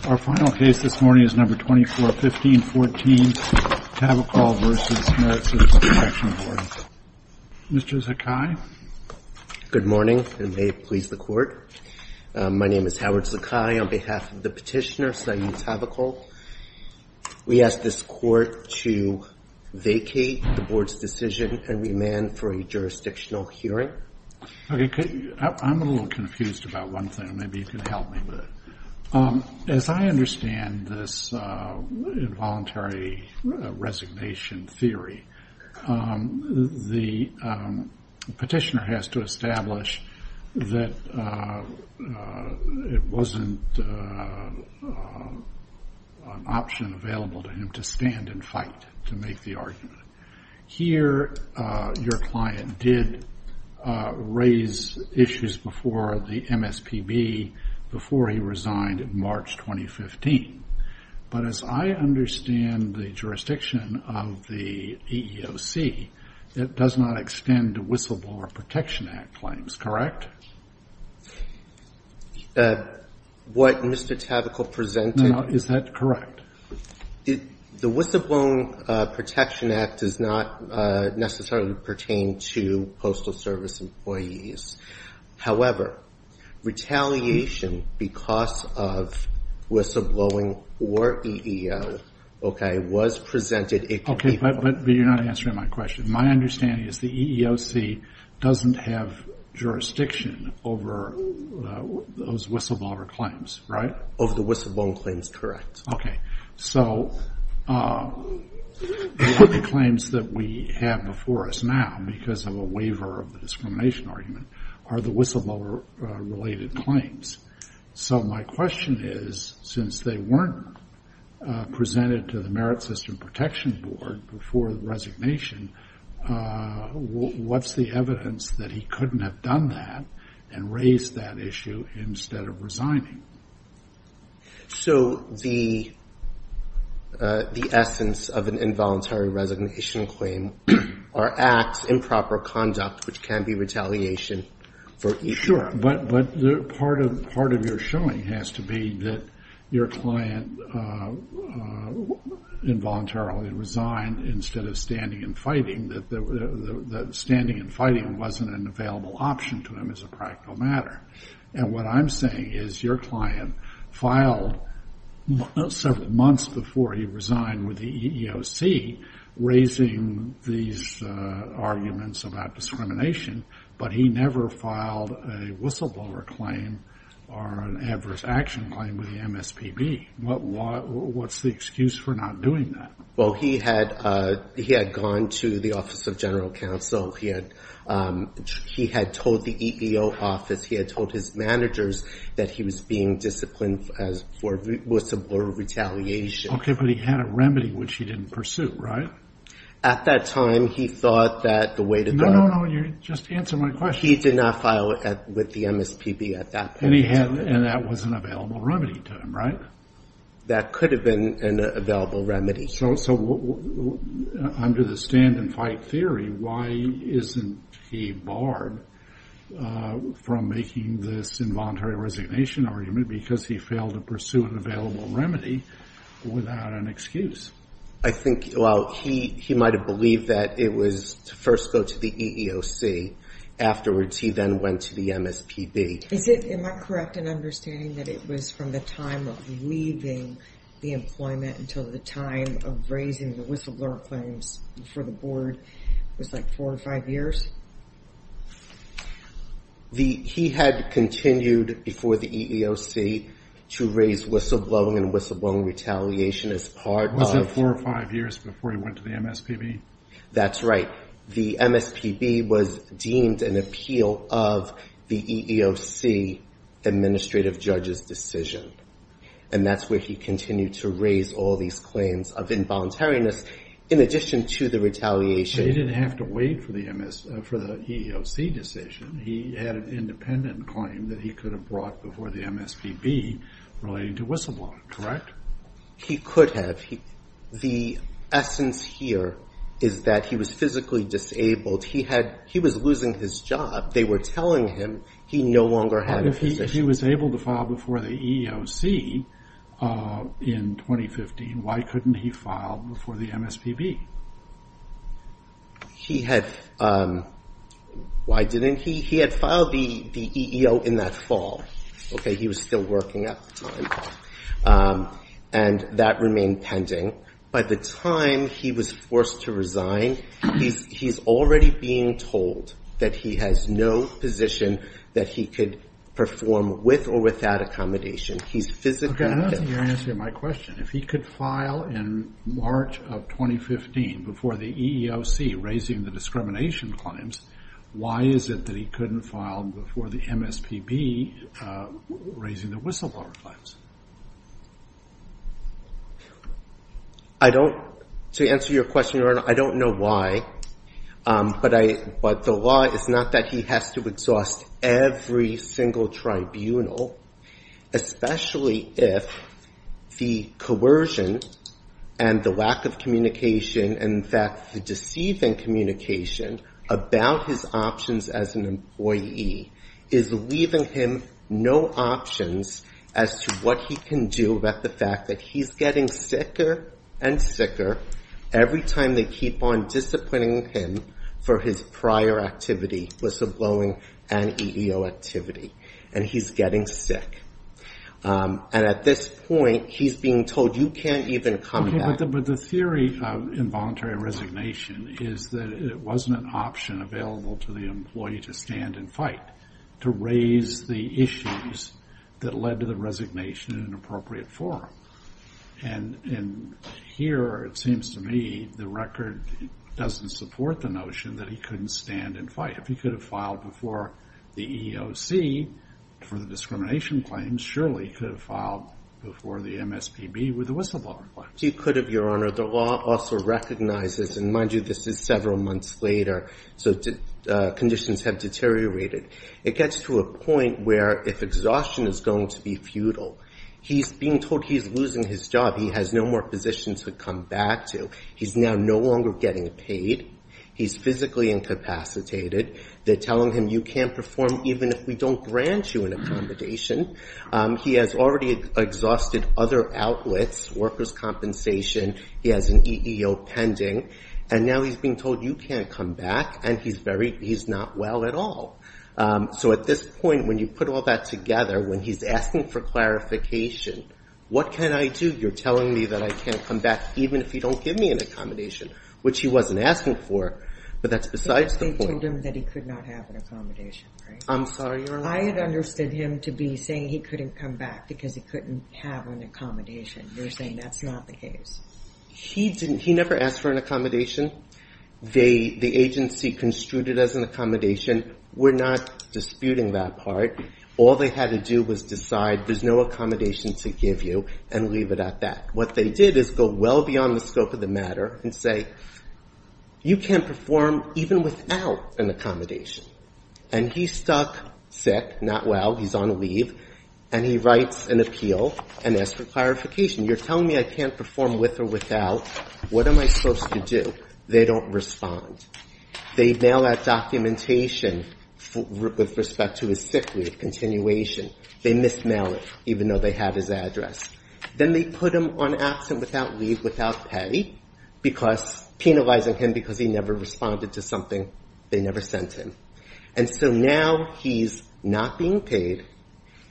2415.14 Tavakkol v. MSPB Mr. Zakai. Good morning and may it please the Court. My name is Howard Zakai on behalf of the petitioner, Sayu Tavakkol. We ask this Court to vacate the Board's decision and remand for a jurisdictional hearing. I'm a little confused about one thing, maybe you can help me with it. As I understand this involuntary resignation theory, the petitioner has to establish that it wasn't an option available to him to stand and fight to make the argument. Here, your client did raise issues before the MSPB before he resigned in March 2015. But as I understand the jurisdiction of the EEOC, it does not extend the Whistleblower Protection Act claims, correct? What Mr. Tavakkol presented No, no, is that correct? The Whistleblower Protection Act does not necessarily pertain to Postal Service employees. However, retaliation because of whistleblowing or EEO, okay, was presented Okay, but you're not answering my question. My understanding is the EEOC doesn't have jurisdiction over those whistleblower claims, right? Over the whistleblower claims, correct. Okay, so the claims that we have before us now, because of a waiver of the discrimination argument, are the whistleblower-related claims. So my question is, since they weren't presented to the Merit System Protection Board before the resignation, what's the evidence that he couldn't have done that and raised that issue instead of resigning? So the essence of an involuntary resignation claim are acts, improper conduct, which can be retaliation for EEOC. Sure, but part of your showing has to be that your client involuntarily resigned instead of standing and fighting, that standing and fighting wasn't an available option to him as a practical matter. And what I'm saying is your client filed several months before he resigned with the EEOC, raising these arguments about discrimination, but he never filed a whistleblower claim or an adverse action claim with the MSPB. What's the excuse for not doing that? Well, he had gone to the Office of General Counsel. He had told the EEOC office, he had told his managers that he was being disciplined for whistleblower retaliation. Okay, but he had a remedy, which he didn't pursue, right? At that time, he thought that the way to go... No, no, no, you're just answering my question. He did not file with the MSPB at that point. And that was an available remedy to him, right? That could have been an available remedy. So under the stand and fight theory, why isn't he barred from making this involuntary resignation argument because he failed to pursue an available remedy without an excuse? I think, well, he might have believed that it was to first go to the EEOC. Afterwards, he then went to the MSPB. Is it, am I correct in understanding that it was from the time of leaving the employment until the time of raising the whistleblower claims for the board was like four or five years? He had continued before the EEOC to raise whistleblowing and whistleblowing retaliation as part of... Was it four or five years before he went to the MSPB? That's right. The MSPB was deemed an appeal of the EEOC administrative judge's decision. And that's where he continued to raise all these claims of involuntariness in addition to the retaliation... He didn't have to wait for the EEOC decision. He had an independent claim that he could have brought before the MSPB relating to whistleblowing, correct? He could have. The essence here is that he was physically disabled. He was losing his job. They were telling him he no longer had a position. He was able to file before the EEOC in 2015. Why couldn't he file before the MSPB? He had... Why didn't he? He had filed the EEO in that fall. He was still working at the time. And that remained pending. By the time he was forced to resign, he's already being told that he has no position that he could perform with or without accommodation. He's physically... Okay, that's your answer to my question. If he could file in March of 2015 before the EEOC raising the discrimination claims, why is it that he couldn't file before the MSPB raising the whistleblower claims? I don't... To answer your question, Your Honor, I don't know why. But the law is not that he has to exhaust every single tribunal, especially if the coercion and the lack of communication, and in fact, the deceiving communication about his options as an employee is leaving him no options as to what he can do about the fact that he's getting sicker and sicker every time they keep on disciplining him for his prior activity, whistleblowing and EEO activity. And he's getting sick. And at this point, he's being told, you can't even come back. But the theory of involuntary resignation is that it wasn't an option available to the employee to stand and fight, to raise the issues that led to the resignation in an appropriate forum. And here, it seems to me, the record doesn't support the notion that he couldn't stand and fight. If he could have filed before the EEOC for the discrimination claims, surely he could have filed before the MSPB with the whistleblower claims. He could have, Your Honor. The law also recognizes, and mind you, this is several months later, so conditions have deteriorated. It gets to a point where if exhaustion is going to be futile, he's being told he's losing his job. He has no more positions to come back to. He's now no longer getting paid. He's physically incapacitated. They're telling him, you can't perform even if we don't grant you an accommodation. He has already exhausted other outlets, workers' compensation. He has an EEO pending. And now he's being told, you can't come back. And he's not well at all. So at this point, when you put all that together, when he's asking for clarification, what can I do? You're telling me that I can't come back even if you don't give me an accommodation, which he wasn't asking for. But that's besides the point. But they told him that he could not have an accommodation, right? I'm sorry, Your Honor. I had understood him to be saying he couldn't come back because he couldn't have an accommodation. They're saying that's not the case. He never asked for an accommodation. The agency construed it as an accommodation. We're not disputing that part. All they had to do was decide there's no accommodation to give you and leave it at that. What they did is go well beyond the scope of the matter and say, you can't perform even without an accommodation. And he's stuck, sick, not well. He's on leave. And he writes an appeal and asks for clarification. You're telling me I can't perform with or without. What am I supposed to do? They don't respond. They mail that documentation with respect to his sick leave continuation. They mismail it, even though they have his address. Then they put him on absent without leave, without pay, penalizing him because he never responded to something they never sent him. And so now he's not being paid.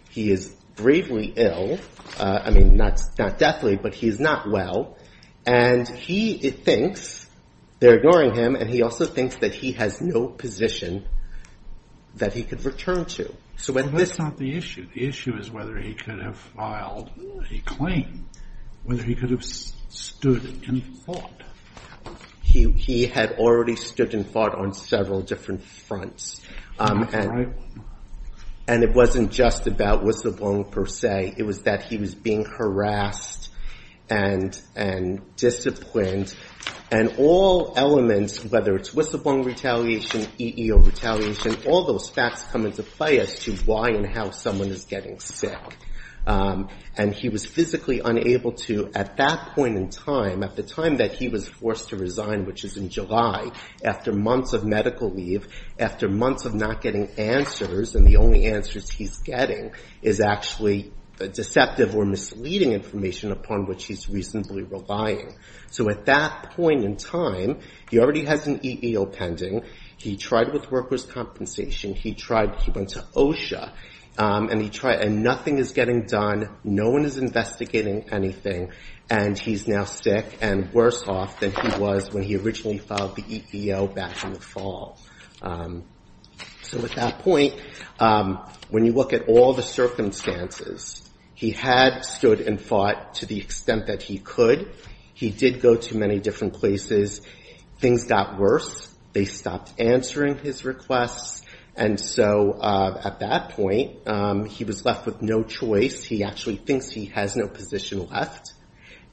He is gravely ill. I mean, not deathly, but he's not well. And he thinks they're ignoring him. And he also thinks that he has no position that he could return to. So that's not the issue. The issue is whether he could have filed a claim, whether he could have stood and fought. He had already stood and fought on several different fronts. And it wasn't just about was the wrong per se. It was that he was being harassed and disciplined. And all elements, whether it's whistleblower retaliation, EEO retaliation, all those facts come into play as to why and how someone is getting sick. And he was physically unable to, at that point in time, at the time that he was forced to resign, which is in July, after months of medical leave, after months of not getting answers. And the only answers he's getting is actually deceptive or misleading information upon which he's reasonably relying. So at that point in time, he already has an EEO pending. He tried with workers' compensation. He tried. He went to OSHA. And he tried. And nothing is getting done. No one is investigating anything. And he's now sick and worse off than he was when he originally filed the EEO back in the fall. So at that point, when you look at all the circumstances, he had stood and fought to the extent that he could. He did go to many different places. Things got worse. They stopped answering his requests. And so at that point, he was left with no choice. He actually thinks he has no position left.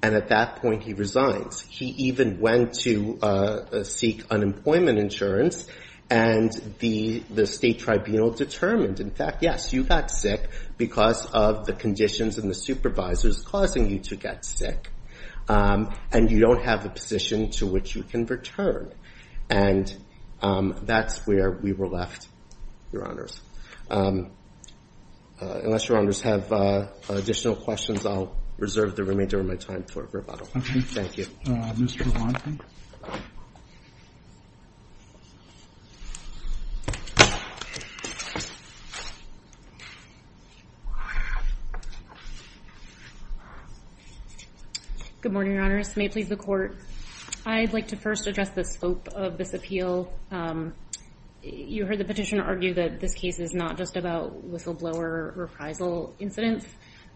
And at that point, he resigns. He even went to seek unemployment insurance. And the state tribunal determined, in fact, yes, you got sick because of the conditions and the supervisors causing you to get sick. And you don't have a position to which you can return. And that's where we were left, your honors. Unless your honors have additional questions, I'll reserve the remainder of my time for rebuttal. OK. Thank you. Mr. Blanton. Good morning, your honors. May it please the court. I'd like to first address the scope of this appeal. You heard the petitioner argue that this case is not just about whistleblower reprisal incidents.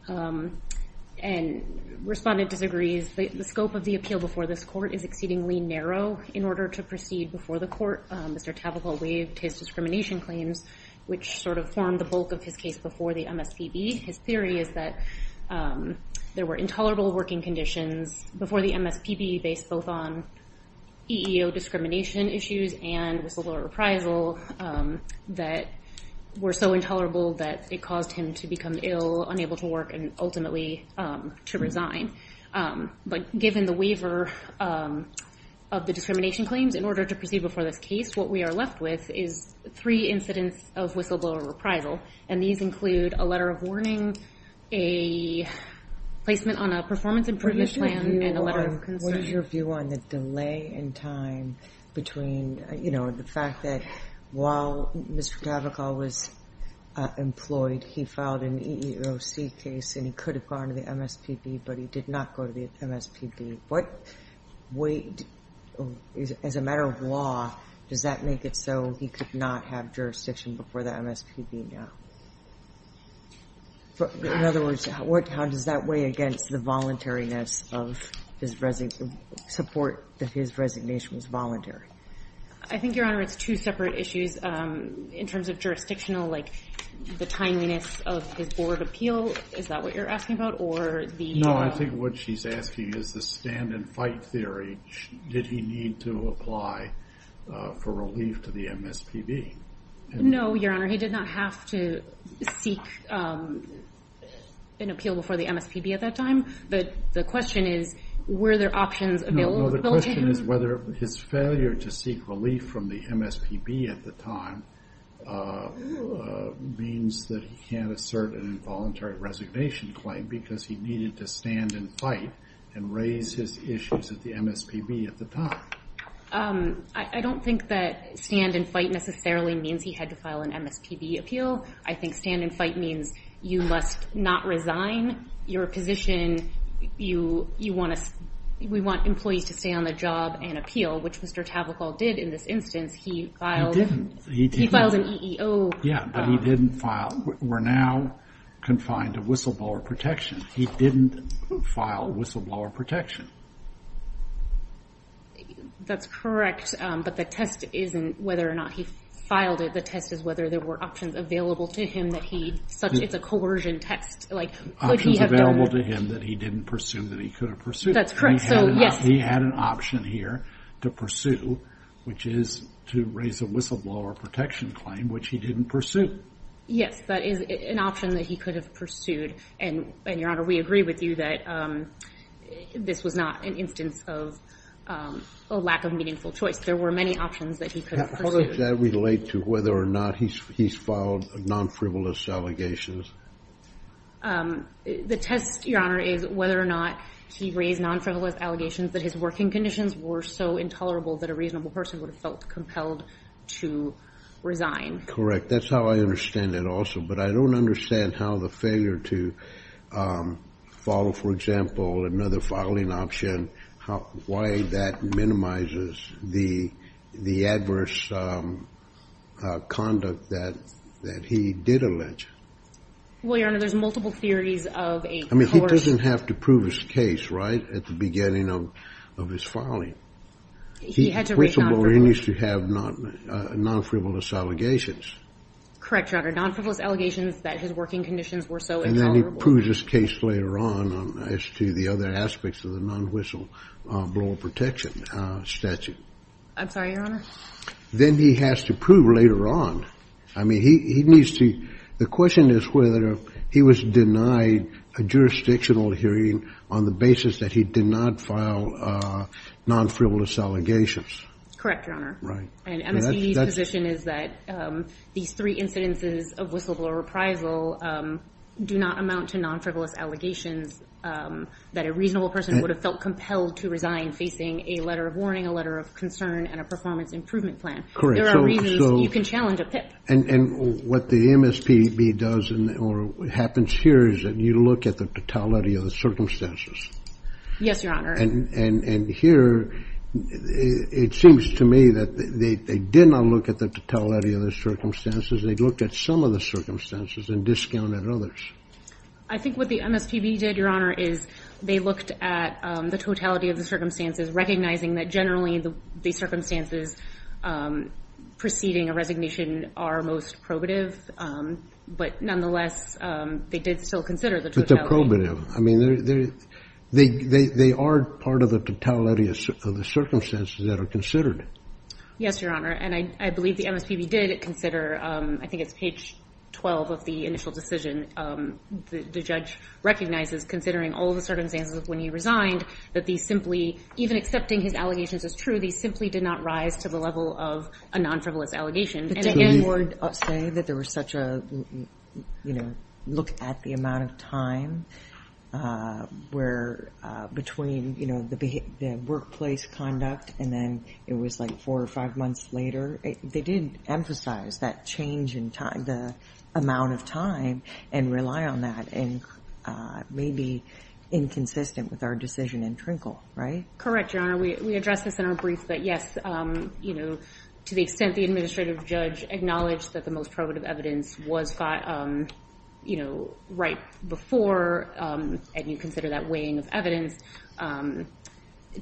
And respondent disagrees. The scope of the appeal before this court is exceedingly narrow. In order to proceed before the court, Mr. Tavakol waived his discrimination claims, which sort of formed the bulk of his case before the MSPB. His theory is that there were intolerable working conditions before the MSPB, based both on EEO discrimination issues and whistleblower reprisal that were so intolerable that it caused him to become ill, unable to work, and ultimately to resign. But given the waiver of the discrimination claims in order to proceed before this case, what we are left with is three incidents of whistleblower reprisal. And these include a letter of warning, a placement on a performance improvement plan, and a letter of concern. What is your view on the delay in time between the fact that while Mr. Tavakol was employed, he filed an EEOC case, and he could have gone to the MSPB, but he did not go to the MSPB. What weight, as a matter of law, does that make it so he could not have jurisdiction before the MSPB now? In other words, how does that weigh against the voluntariness of his support that his resignation was voluntary? I think, Your Honor, it's two separate issues. In terms of jurisdictional, like the timeliness of his board of appeal, is that what you're asking about? No, I think what she's asking is the stand and fight theory. Did he need to apply for relief to the MSPB? No, Your Honor. He did not have to seek an appeal before the MSPB at that time. But the question is, were there options available to him? No, the question is whether his failure to seek relief from the MSPB at the time means that he can't assert an involuntary resignation claim. Because he needed to stand and fight and raise his issues at the MSPB at the time. I don't think that stand and fight necessarily means he had to file an MSPB appeal. I think stand and fight means you must not resign your position. We want employees to stay on the job and appeal, which Mr. Tavakol did in this instance. He filed an EEO. Yeah, but he didn't file. We're now confined to whistleblower protection. He didn't file a whistleblower protection. That's correct. But the test isn't whether or not he filed it. The test is whether there were options available to him that he... It's a coercion test. Options available to him that he didn't presume that he could have pursued. That's correct. He had an option here to pursue, which is to raise a whistleblower protection claim, which he didn't pursue. Yes, that is an option that he could have pursued. And, Your Honor, we agree with you that this was not an instance of a lack of meaningful choice. There were many options that he could have pursued. How does that relate to whether or not he's filed non-frivolous allegations? The test, Your Honor, is whether or not he raised non-frivolous allegations that his working conditions were so intolerable that a reasonable person would have felt compelled to resign. Correct. That's how I understand it also. But I don't understand how the failure to follow, for example, another filing option, why that minimizes the adverse conduct that he did allege. Well, Your Honor, there's multiple theories of a coercion... I mean, he doesn't have to prove his case, right, at the beginning of his filing. He had to raise non-frivolous... Correct, Your Honor. Non-frivolous allegations that his working conditions were so intolerable. And then he proves his case later on as to the other aspects of the non-whistle blower protection statute. I'm sorry, Your Honor? Then he has to prove later on. I mean, he needs to... The question is whether he was denied a jurisdictional hearing on the basis that he did not file non-frivolous allegations. Correct, Your Honor. Right. And MSP's position is that these three incidences of whistleblower reprisal do not amount to non-frivolous allegations that a reasonable person would have felt compelled to resign facing a letter of warning, a letter of concern, and a performance improvement plan. Correct. There are reasons you can challenge a PIP. And what the MSPB does or happens here is that you look at the totality of the circumstances. Yes, Your Honor. And here, it seems to me that they did not look at the totality of the circumstances. They looked at some of the circumstances and discounted others. I think what the MSPB did, Your Honor, is they looked at the totality of the circumstances, recognizing that generally the circumstances preceding a resignation are most probative. But nonetheless, they did still consider the totality. I mean, they are part of the totality of the circumstances that are considered. Yes, Your Honor. And I believe the MSPB did consider, I think it's page 12 of the initial decision, the judge recognizes, considering all the circumstances of when he resigned, that these simply, even accepting his allegations as true, these simply did not rise to the level of a non-frivolous allegation. But you would say that there was such a, you know, look at the amount of time where between, you know, the workplace conduct and then it was like four or five months later. They did emphasize that change in time, the amount of time, and rely on that. And maybe inconsistent with our decision in Trinkle, right? Correct, Your Honor. We addressed this in our brief. But yes, you know, to the extent the administrative judge acknowledged that the most probative evidence was, you know, right before, and you consider that weighing of evidence, to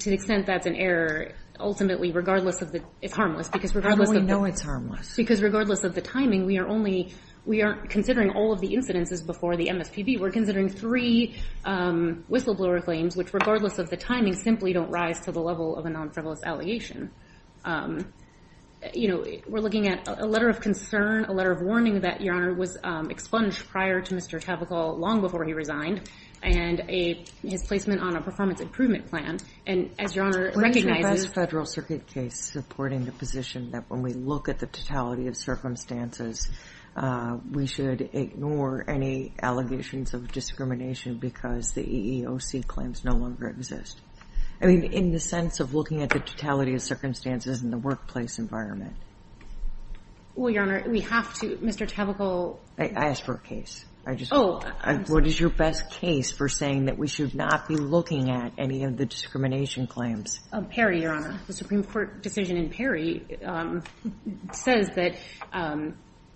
the extent that's an error, ultimately, regardless of the, it's harmless. How do we know it's harmless? Because regardless of the timing, we are only, we aren't considering all of the incidences before the MSPB. We're considering three whistleblower claims, which regardless of the timing, simply don't rise to the level of a non-frivolous allegation. You know, we're looking at a letter of concern, a letter of warning that, Your Honor, was expunged prior to Mr. Tavakol, long before he resigned, and his placement on a performance improvement plan. And as Your Honor recognizes- We're in the best federal circuit case supporting the position that when we look at the totality of circumstances, we should ignore any allegations of discrimination because the EEOC claims no longer exist. I mean, in the sense of looking at the totality of circumstances in the workplace environment. Well, Your Honor, we have to. Mr. Tavakol- I asked for a case. I just- Oh. What is your best case for saying that we should not be looking at any of the discrimination claims? Perry, Your Honor. The Supreme Court decision in Perry says that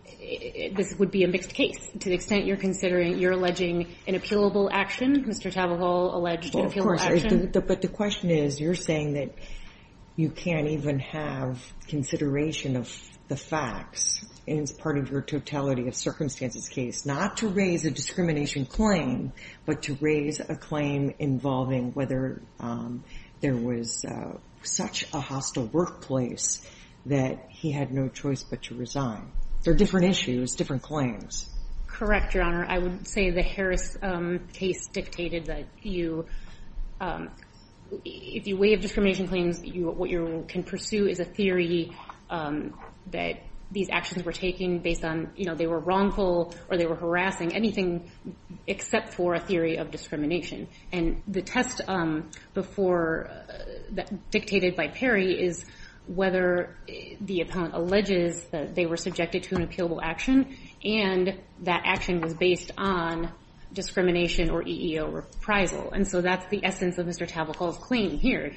this would be a mixed case, to the extent you're considering, you're alleging an appealable action. Mr. Tavakol alleged an appealable action. But the question is, you're saying that you can't even have consideration of the facts, and it's part of your totality of circumstances case, not to raise a discrimination claim, but to raise a claim involving whether there was such a hostile workplace that he had no choice but to resign. They're different issues, different claims. Correct, Your Honor. I would say the Harris case dictated that if you waive discrimination claims, what you can pursue is a theory that these actions were taking based on they were wrongful or they were harassing, anything except for a theory of discrimination. And the test dictated by Perry is whether the appellant alleges that they were subjected to an appealable action, and that action was based on discrimination or EEO reprisal. And so that's the essence of Mr. Tavakol's claim here,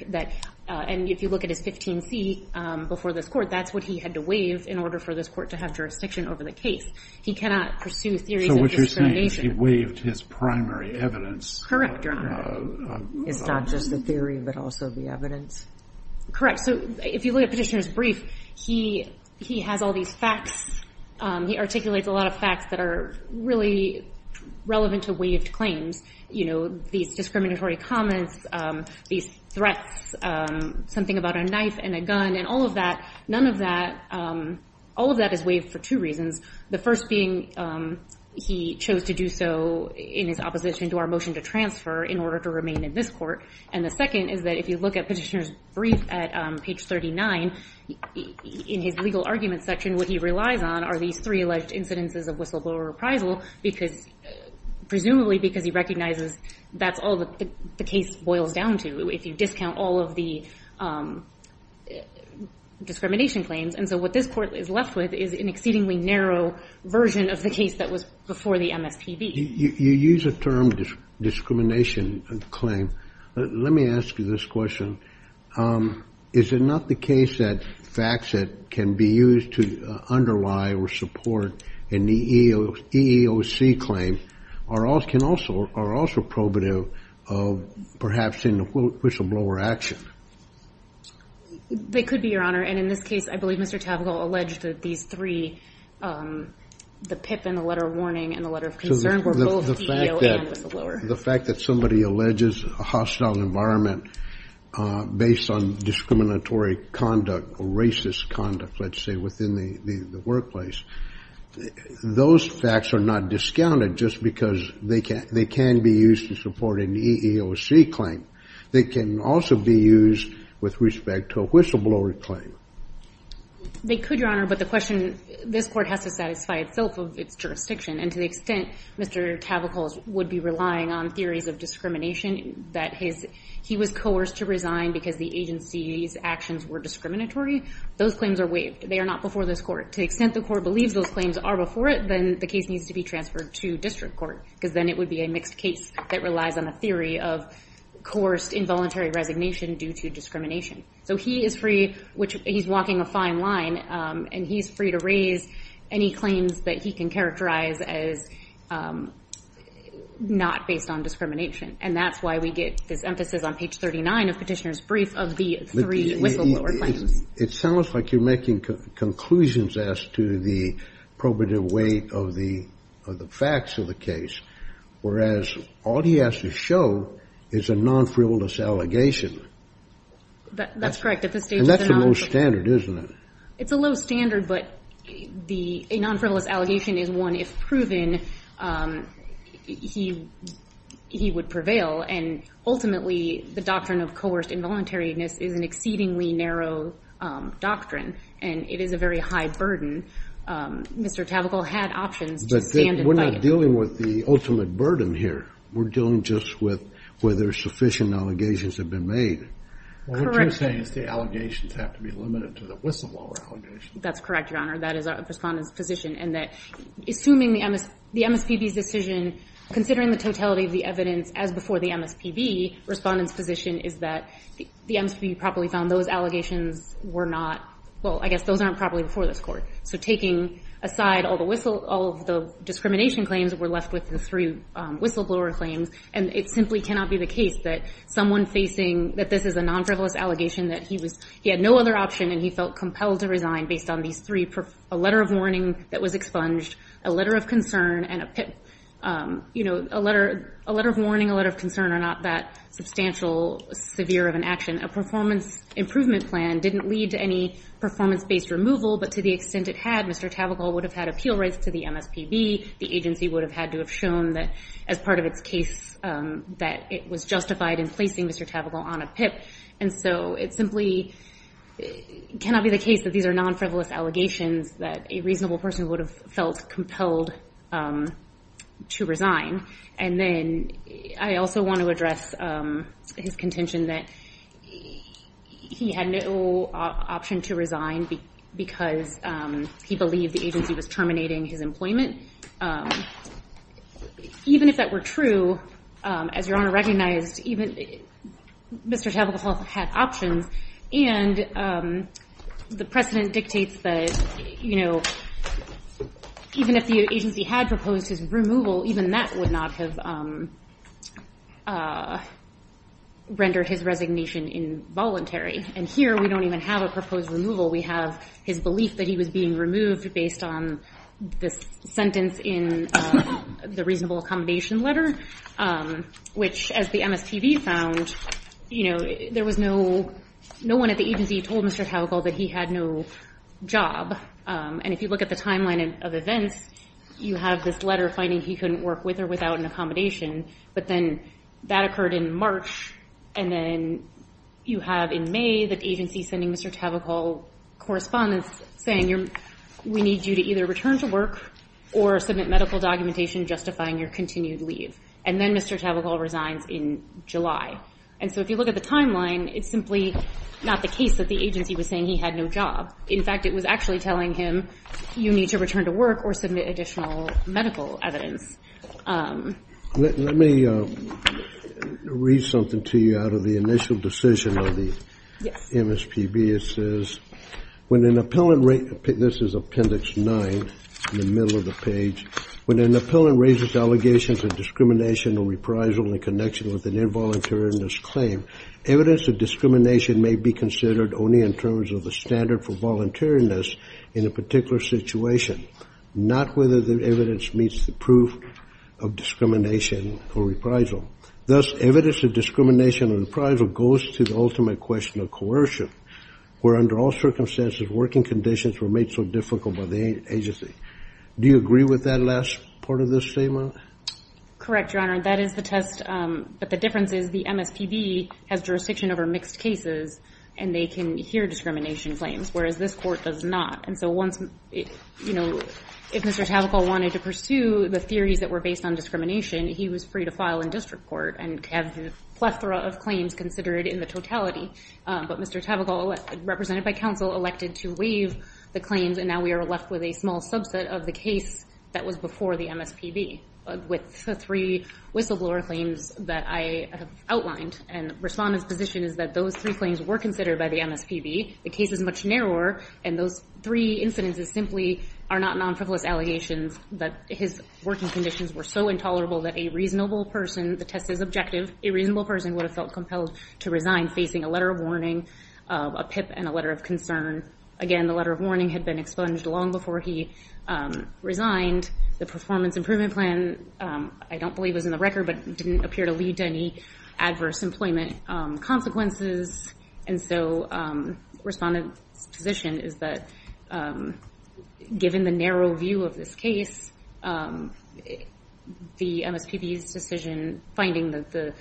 and if you look at his 15C before this court, that's what he had to waive in order for this court to have jurisdiction over the case. He cannot pursue theories of discrimination. So what you're saying is he waived his primary evidence. Correct, Your Honor. It's not just the theory, but also the evidence. Correct. If you look at Petitioner's brief, he has all these facts. He articulates a lot of facts that are really relevant to waived claims. These discriminatory comments, these threats, something about a knife and a gun, and all of that, none of that, all of that is waived for two reasons. The first being he chose to do so in his opposition to our motion to transfer in order to remain in this court. And the second is that if you look at Petitioner's brief at page 39, in his legal argument section, what he relies on are these three alleged incidences of whistleblower reprisal, presumably because he recognizes that's all that the case boils down to if you discount all of the discrimination claims. And so what this court is left with is an exceedingly narrow version of the case that was before the MSPB. You use the term discrimination claim. Let me ask you this question. Is it not the case that facts that can be used to underlie or support an EEOC claim are also probative of perhaps in the whistleblower action? They could be, Your Honor. And in this case, I believe Mr. Tavagal alleged that these three, the PIP and the letter of concern, were both EEO and whistleblower. The fact that somebody alleges a hostile environment based on discriminatory conduct or racist conduct, let's say, within the workplace, those facts are not discounted just because they can be used to support an EEOC claim. They can also be used with respect to a whistleblower claim. They could, Your Honor. But the question, this court has to satisfy itself of its jurisdiction. And to the extent Mr. Tavagal would be relying on theories of discrimination, that he was coerced to resign because the agency's actions were discriminatory, those claims are waived. They are not before this court. To the extent the court believes those claims are before it, then the case needs to be transferred to district court. Because then it would be a mixed case that relies on a theory of coerced involuntary resignation due to discrimination. So he is free, which he's walking a fine line, and he's free to raise any claims that he can characterize as not based on discrimination. And that's why we get this emphasis on page 39 of Petitioner's brief of the three whistleblower claims. It sounds like you're making conclusions as to the probative weight of the facts of the case, whereas all he has to show is a non-frivolous allegation. That's correct. And that's a low standard, isn't it? It's a low standard, but a non-frivolous allegation is one, if proven, he would prevail. And ultimately, the doctrine of coerced involuntariness is an exceedingly narrow doctrine, and it is a very high burden. Mr. Tavagal had options to stand and fight. But we're not dealing with the ultimate burden here. We're dealing just with whether sufficient allegations have been made. What you're saying is the allegations have to be limited to the whistleblower allegations. That's correct, Your Honor. That is the Respondent's position. And assuming the MSPB's decision, considering the totality of the evidence as before the MSPB, Respondent's position is that the MSPB properly found those allegations were not, well, I guess those aren't properly before this Court. So taking aside all of the discrimination claims, we're left with the three whistleblower claims. And it simply cannot be the case that someone facing that this is a non-frivolous allegation, that he had no other option and he felt compelled to resign based on these three, a letter of warning that was expunged, a letter of concern, and a letter of warning, a letter of concern are not that substantial, severe of an action. A performance improvement plan didn't lead to any performance-based removal, but to the extent it had, Mr. Tavakol would have had appeal rights to the MSPB. The agency would have had to have shown that as part of its case that it was justified in placing Mr. Tavakol on a PIP. And so it simply cannot be the case that these are non-frivolous allegations that a reasonable person would have felt compelled to resign. And then I also want to address his contention that he had no option to resign because he believed the agency was terminating his employment. Even if that were true, as Your Honor recognized, Mr. Tavakol had options. And the precedent dictates that even if the agency had proposed his removal, even that would not have rendered his resignation involuntary. And here, we don't even have a proposed removal. We have his belief that he was being removed based on this sentence in the reasonable accommodation letter, which, as the MSPB found, there was no one at the agency told Mr. Tavakol that he had no job. And if you look at the timeline of events, you have this letter finding he couldn't work with or without an accommodation. But then that occurred in March. And then you have in May the agency sending Mr. Tavakol correspondence saying, we need you to either return to work or submit medical documentation justifying your continued leave. And then Mr. Tavakol resigns in July. And so if you look at the timeline, it's simply not the case that the agency was saying he had no job. In fact, it was actually telling him, you need to return to work or submit additional medical evidence. Let me read something to you out of the initial decision of the MSPB. It says, when an appellant raises, this is appendix 9 in the middle of the page, when an appellant raises allegations of discrimination or reprisal in connection with an involuntariness claim, evidence of discrimination may be considered only in terms of the standard for voluntariness in a particular situation, not whether the evidence meets the proof of discrimination or reprisal. Thus, evidence of discrimination and reprisal goes to the ultimate question of coercion, where under all circumstances, working conditions were made so difficult by the agency. Do you agree with that last part of this statement? Correct, Your Honor. That is the test. But the difference is the MSPB has jurisdiction over mixed cases, and they can hear discrimination claims, whereas this court does not. And so once, you know, if Mr. Tavakol wanted to pursue the theories that were based on discrimination, he was free to file in district court and have a plethora of claims considered in the totality. But Mr. Tavakol, represented by counsel, elected to waive the claims, and now we are left with a small subset of the case that was before the MSPB with the three whistleblower claims that I have outlined. And Respondent's position is that those three claims were considered by the MSPB. The case is much narrower. And those three incidences simply are not non-frivolous allegations that his working conditions were so intolerable that a reasonable person, the test is objective, a reasonable person would have felt compelled to resign facing a letter of warning, a PIP, and a letter of concern. Again, the letter of warning had been expunged long before he resigned. The performance improvement plan, I don't believe was in the record, but didn't appear to lead to any adverse employment consequences. And so Respondent's position is that given the narrow view of this case, the MSPB's decision finding that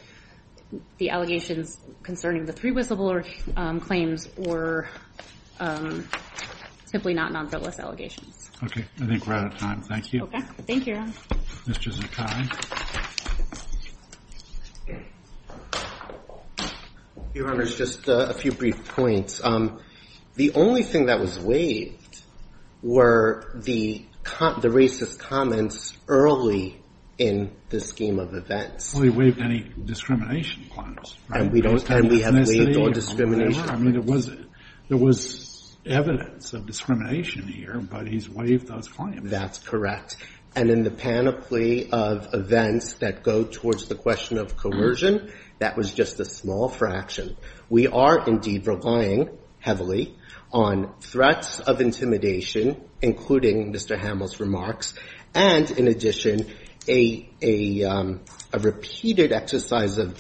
the allegations concerning the three whistleblower claims were simply not non-frivolous allegations. Okay. I think we're out of time. Thank you. Okay. Thank you. Ms. Jezikai. Your Honor, just a few brief points. The only thing that was waived were the racist comments early in the scheme of events. Well, he waived any discrimination claims. And we have waived all discrimination. I mean, there was evidence of discrimination here, but he's waived those claims. That's correct. And in the panoply of events that go towards the question of coercion, that was just a small fraction. We are indeed relying heavily on threats of intimidation, including Mr. Hamill's remarks, and in addition, a repeated exercise of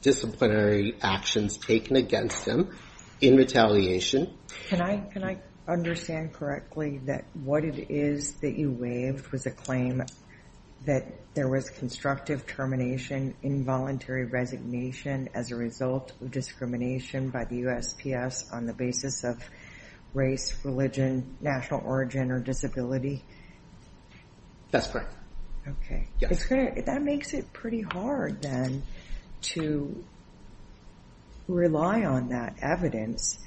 disciplinary actions taken against him in retaliation. Can I understand correctly that what it is that you waived was a claim that there was constructive termination, involuntary resignation as a result of discrimination by the USPS on the basis of race, religion, national origin, or disability? That's correct. Okay. Yes. That makes it pretty hard, then, to rely on that evidence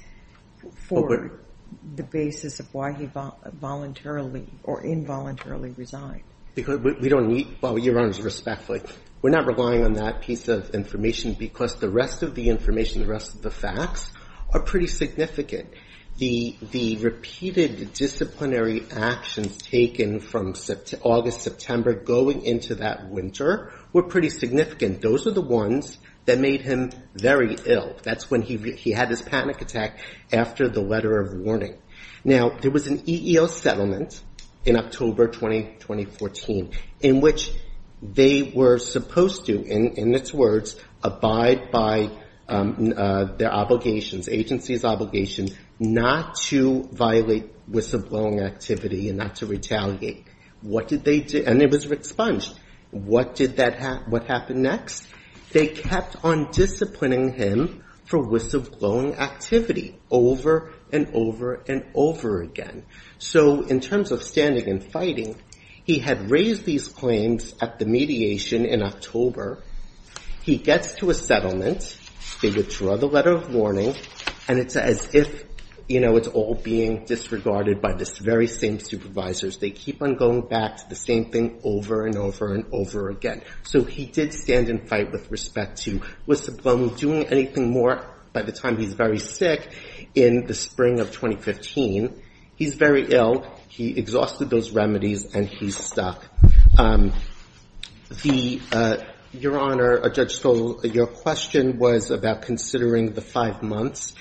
for the basis of why he voluntarily or involuntarily resigned. Because we don't need... Well, Your Honor, respectfully, we're not relying on that piece of information because the rest of the information, the rest of the facts are pretty significant. The repeated disciplinary actions taken from August, September, going into that winter were pretty significant. Those are the ones that made him very ill. That's when he had this panic attack after the letter of warning. Now, there was an EEO settlement in October 2014 in which they were supposed to, in its words, abide by their obligations, agency's obligations, not to violate whistleblowing activity and not to retaliate. What did they do? And it was re-expunged. What happened next? They kept on disciplining him for whistleblowing activity over and over and over again. So in terms of standing and fighting, he had raised these claims at the mediation in October. He gets to a settlement. They withdraw the letter of warning. And it's as if it's all being disregarded by the very same supervisors. They keep on going back to the same thing over and over and over again. So he did stand and fight with respect to whistleblowing, doing anything more by the time he's very sick in the spring of 2015. He's very ill. He exhausted those remedies and he's stuck. Your Honor, Judge Skoll, your question was about considering the five months.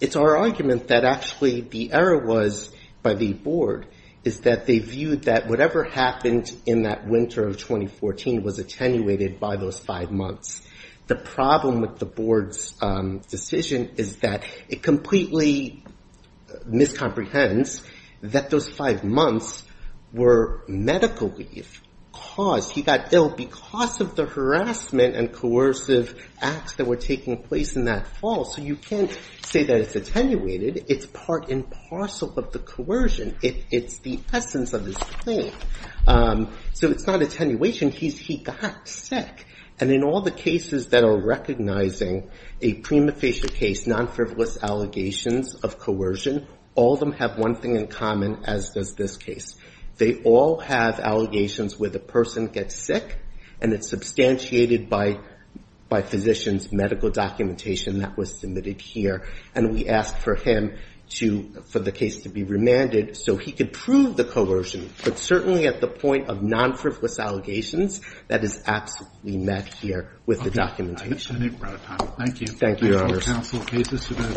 It's our argument that actually the error was by the board is that they viewed that whatever happened in that winter of 2014 was attenuated by those five months. The problem with the board's decision is that it completely miscomprehends miscomprehends that those five months were medically caused. He got ill because of the harassment and coercive acts that were taking place in that fall. So you can't say that it's attenuated. It's part and parcel of the coercion. It's the essence of his claim. So it's not attenuation. He got sick. And in all the cases that are recognizing a prima facie case, non-frivolous allegations of coercion, all of them have one thing in common, as does this case. They all have allegations where the person gets sick and it's substantiated by physician's medical documentation that was submitted here. And we asked for him to, for the case to be remanded so he could prove the coercion. But certainly at the point of non-frivolous allegations, that is absolutely met here with the documentation. Okay, I think we're out of time. Thank you. Thank you, Your Honor. Thank you, counsel.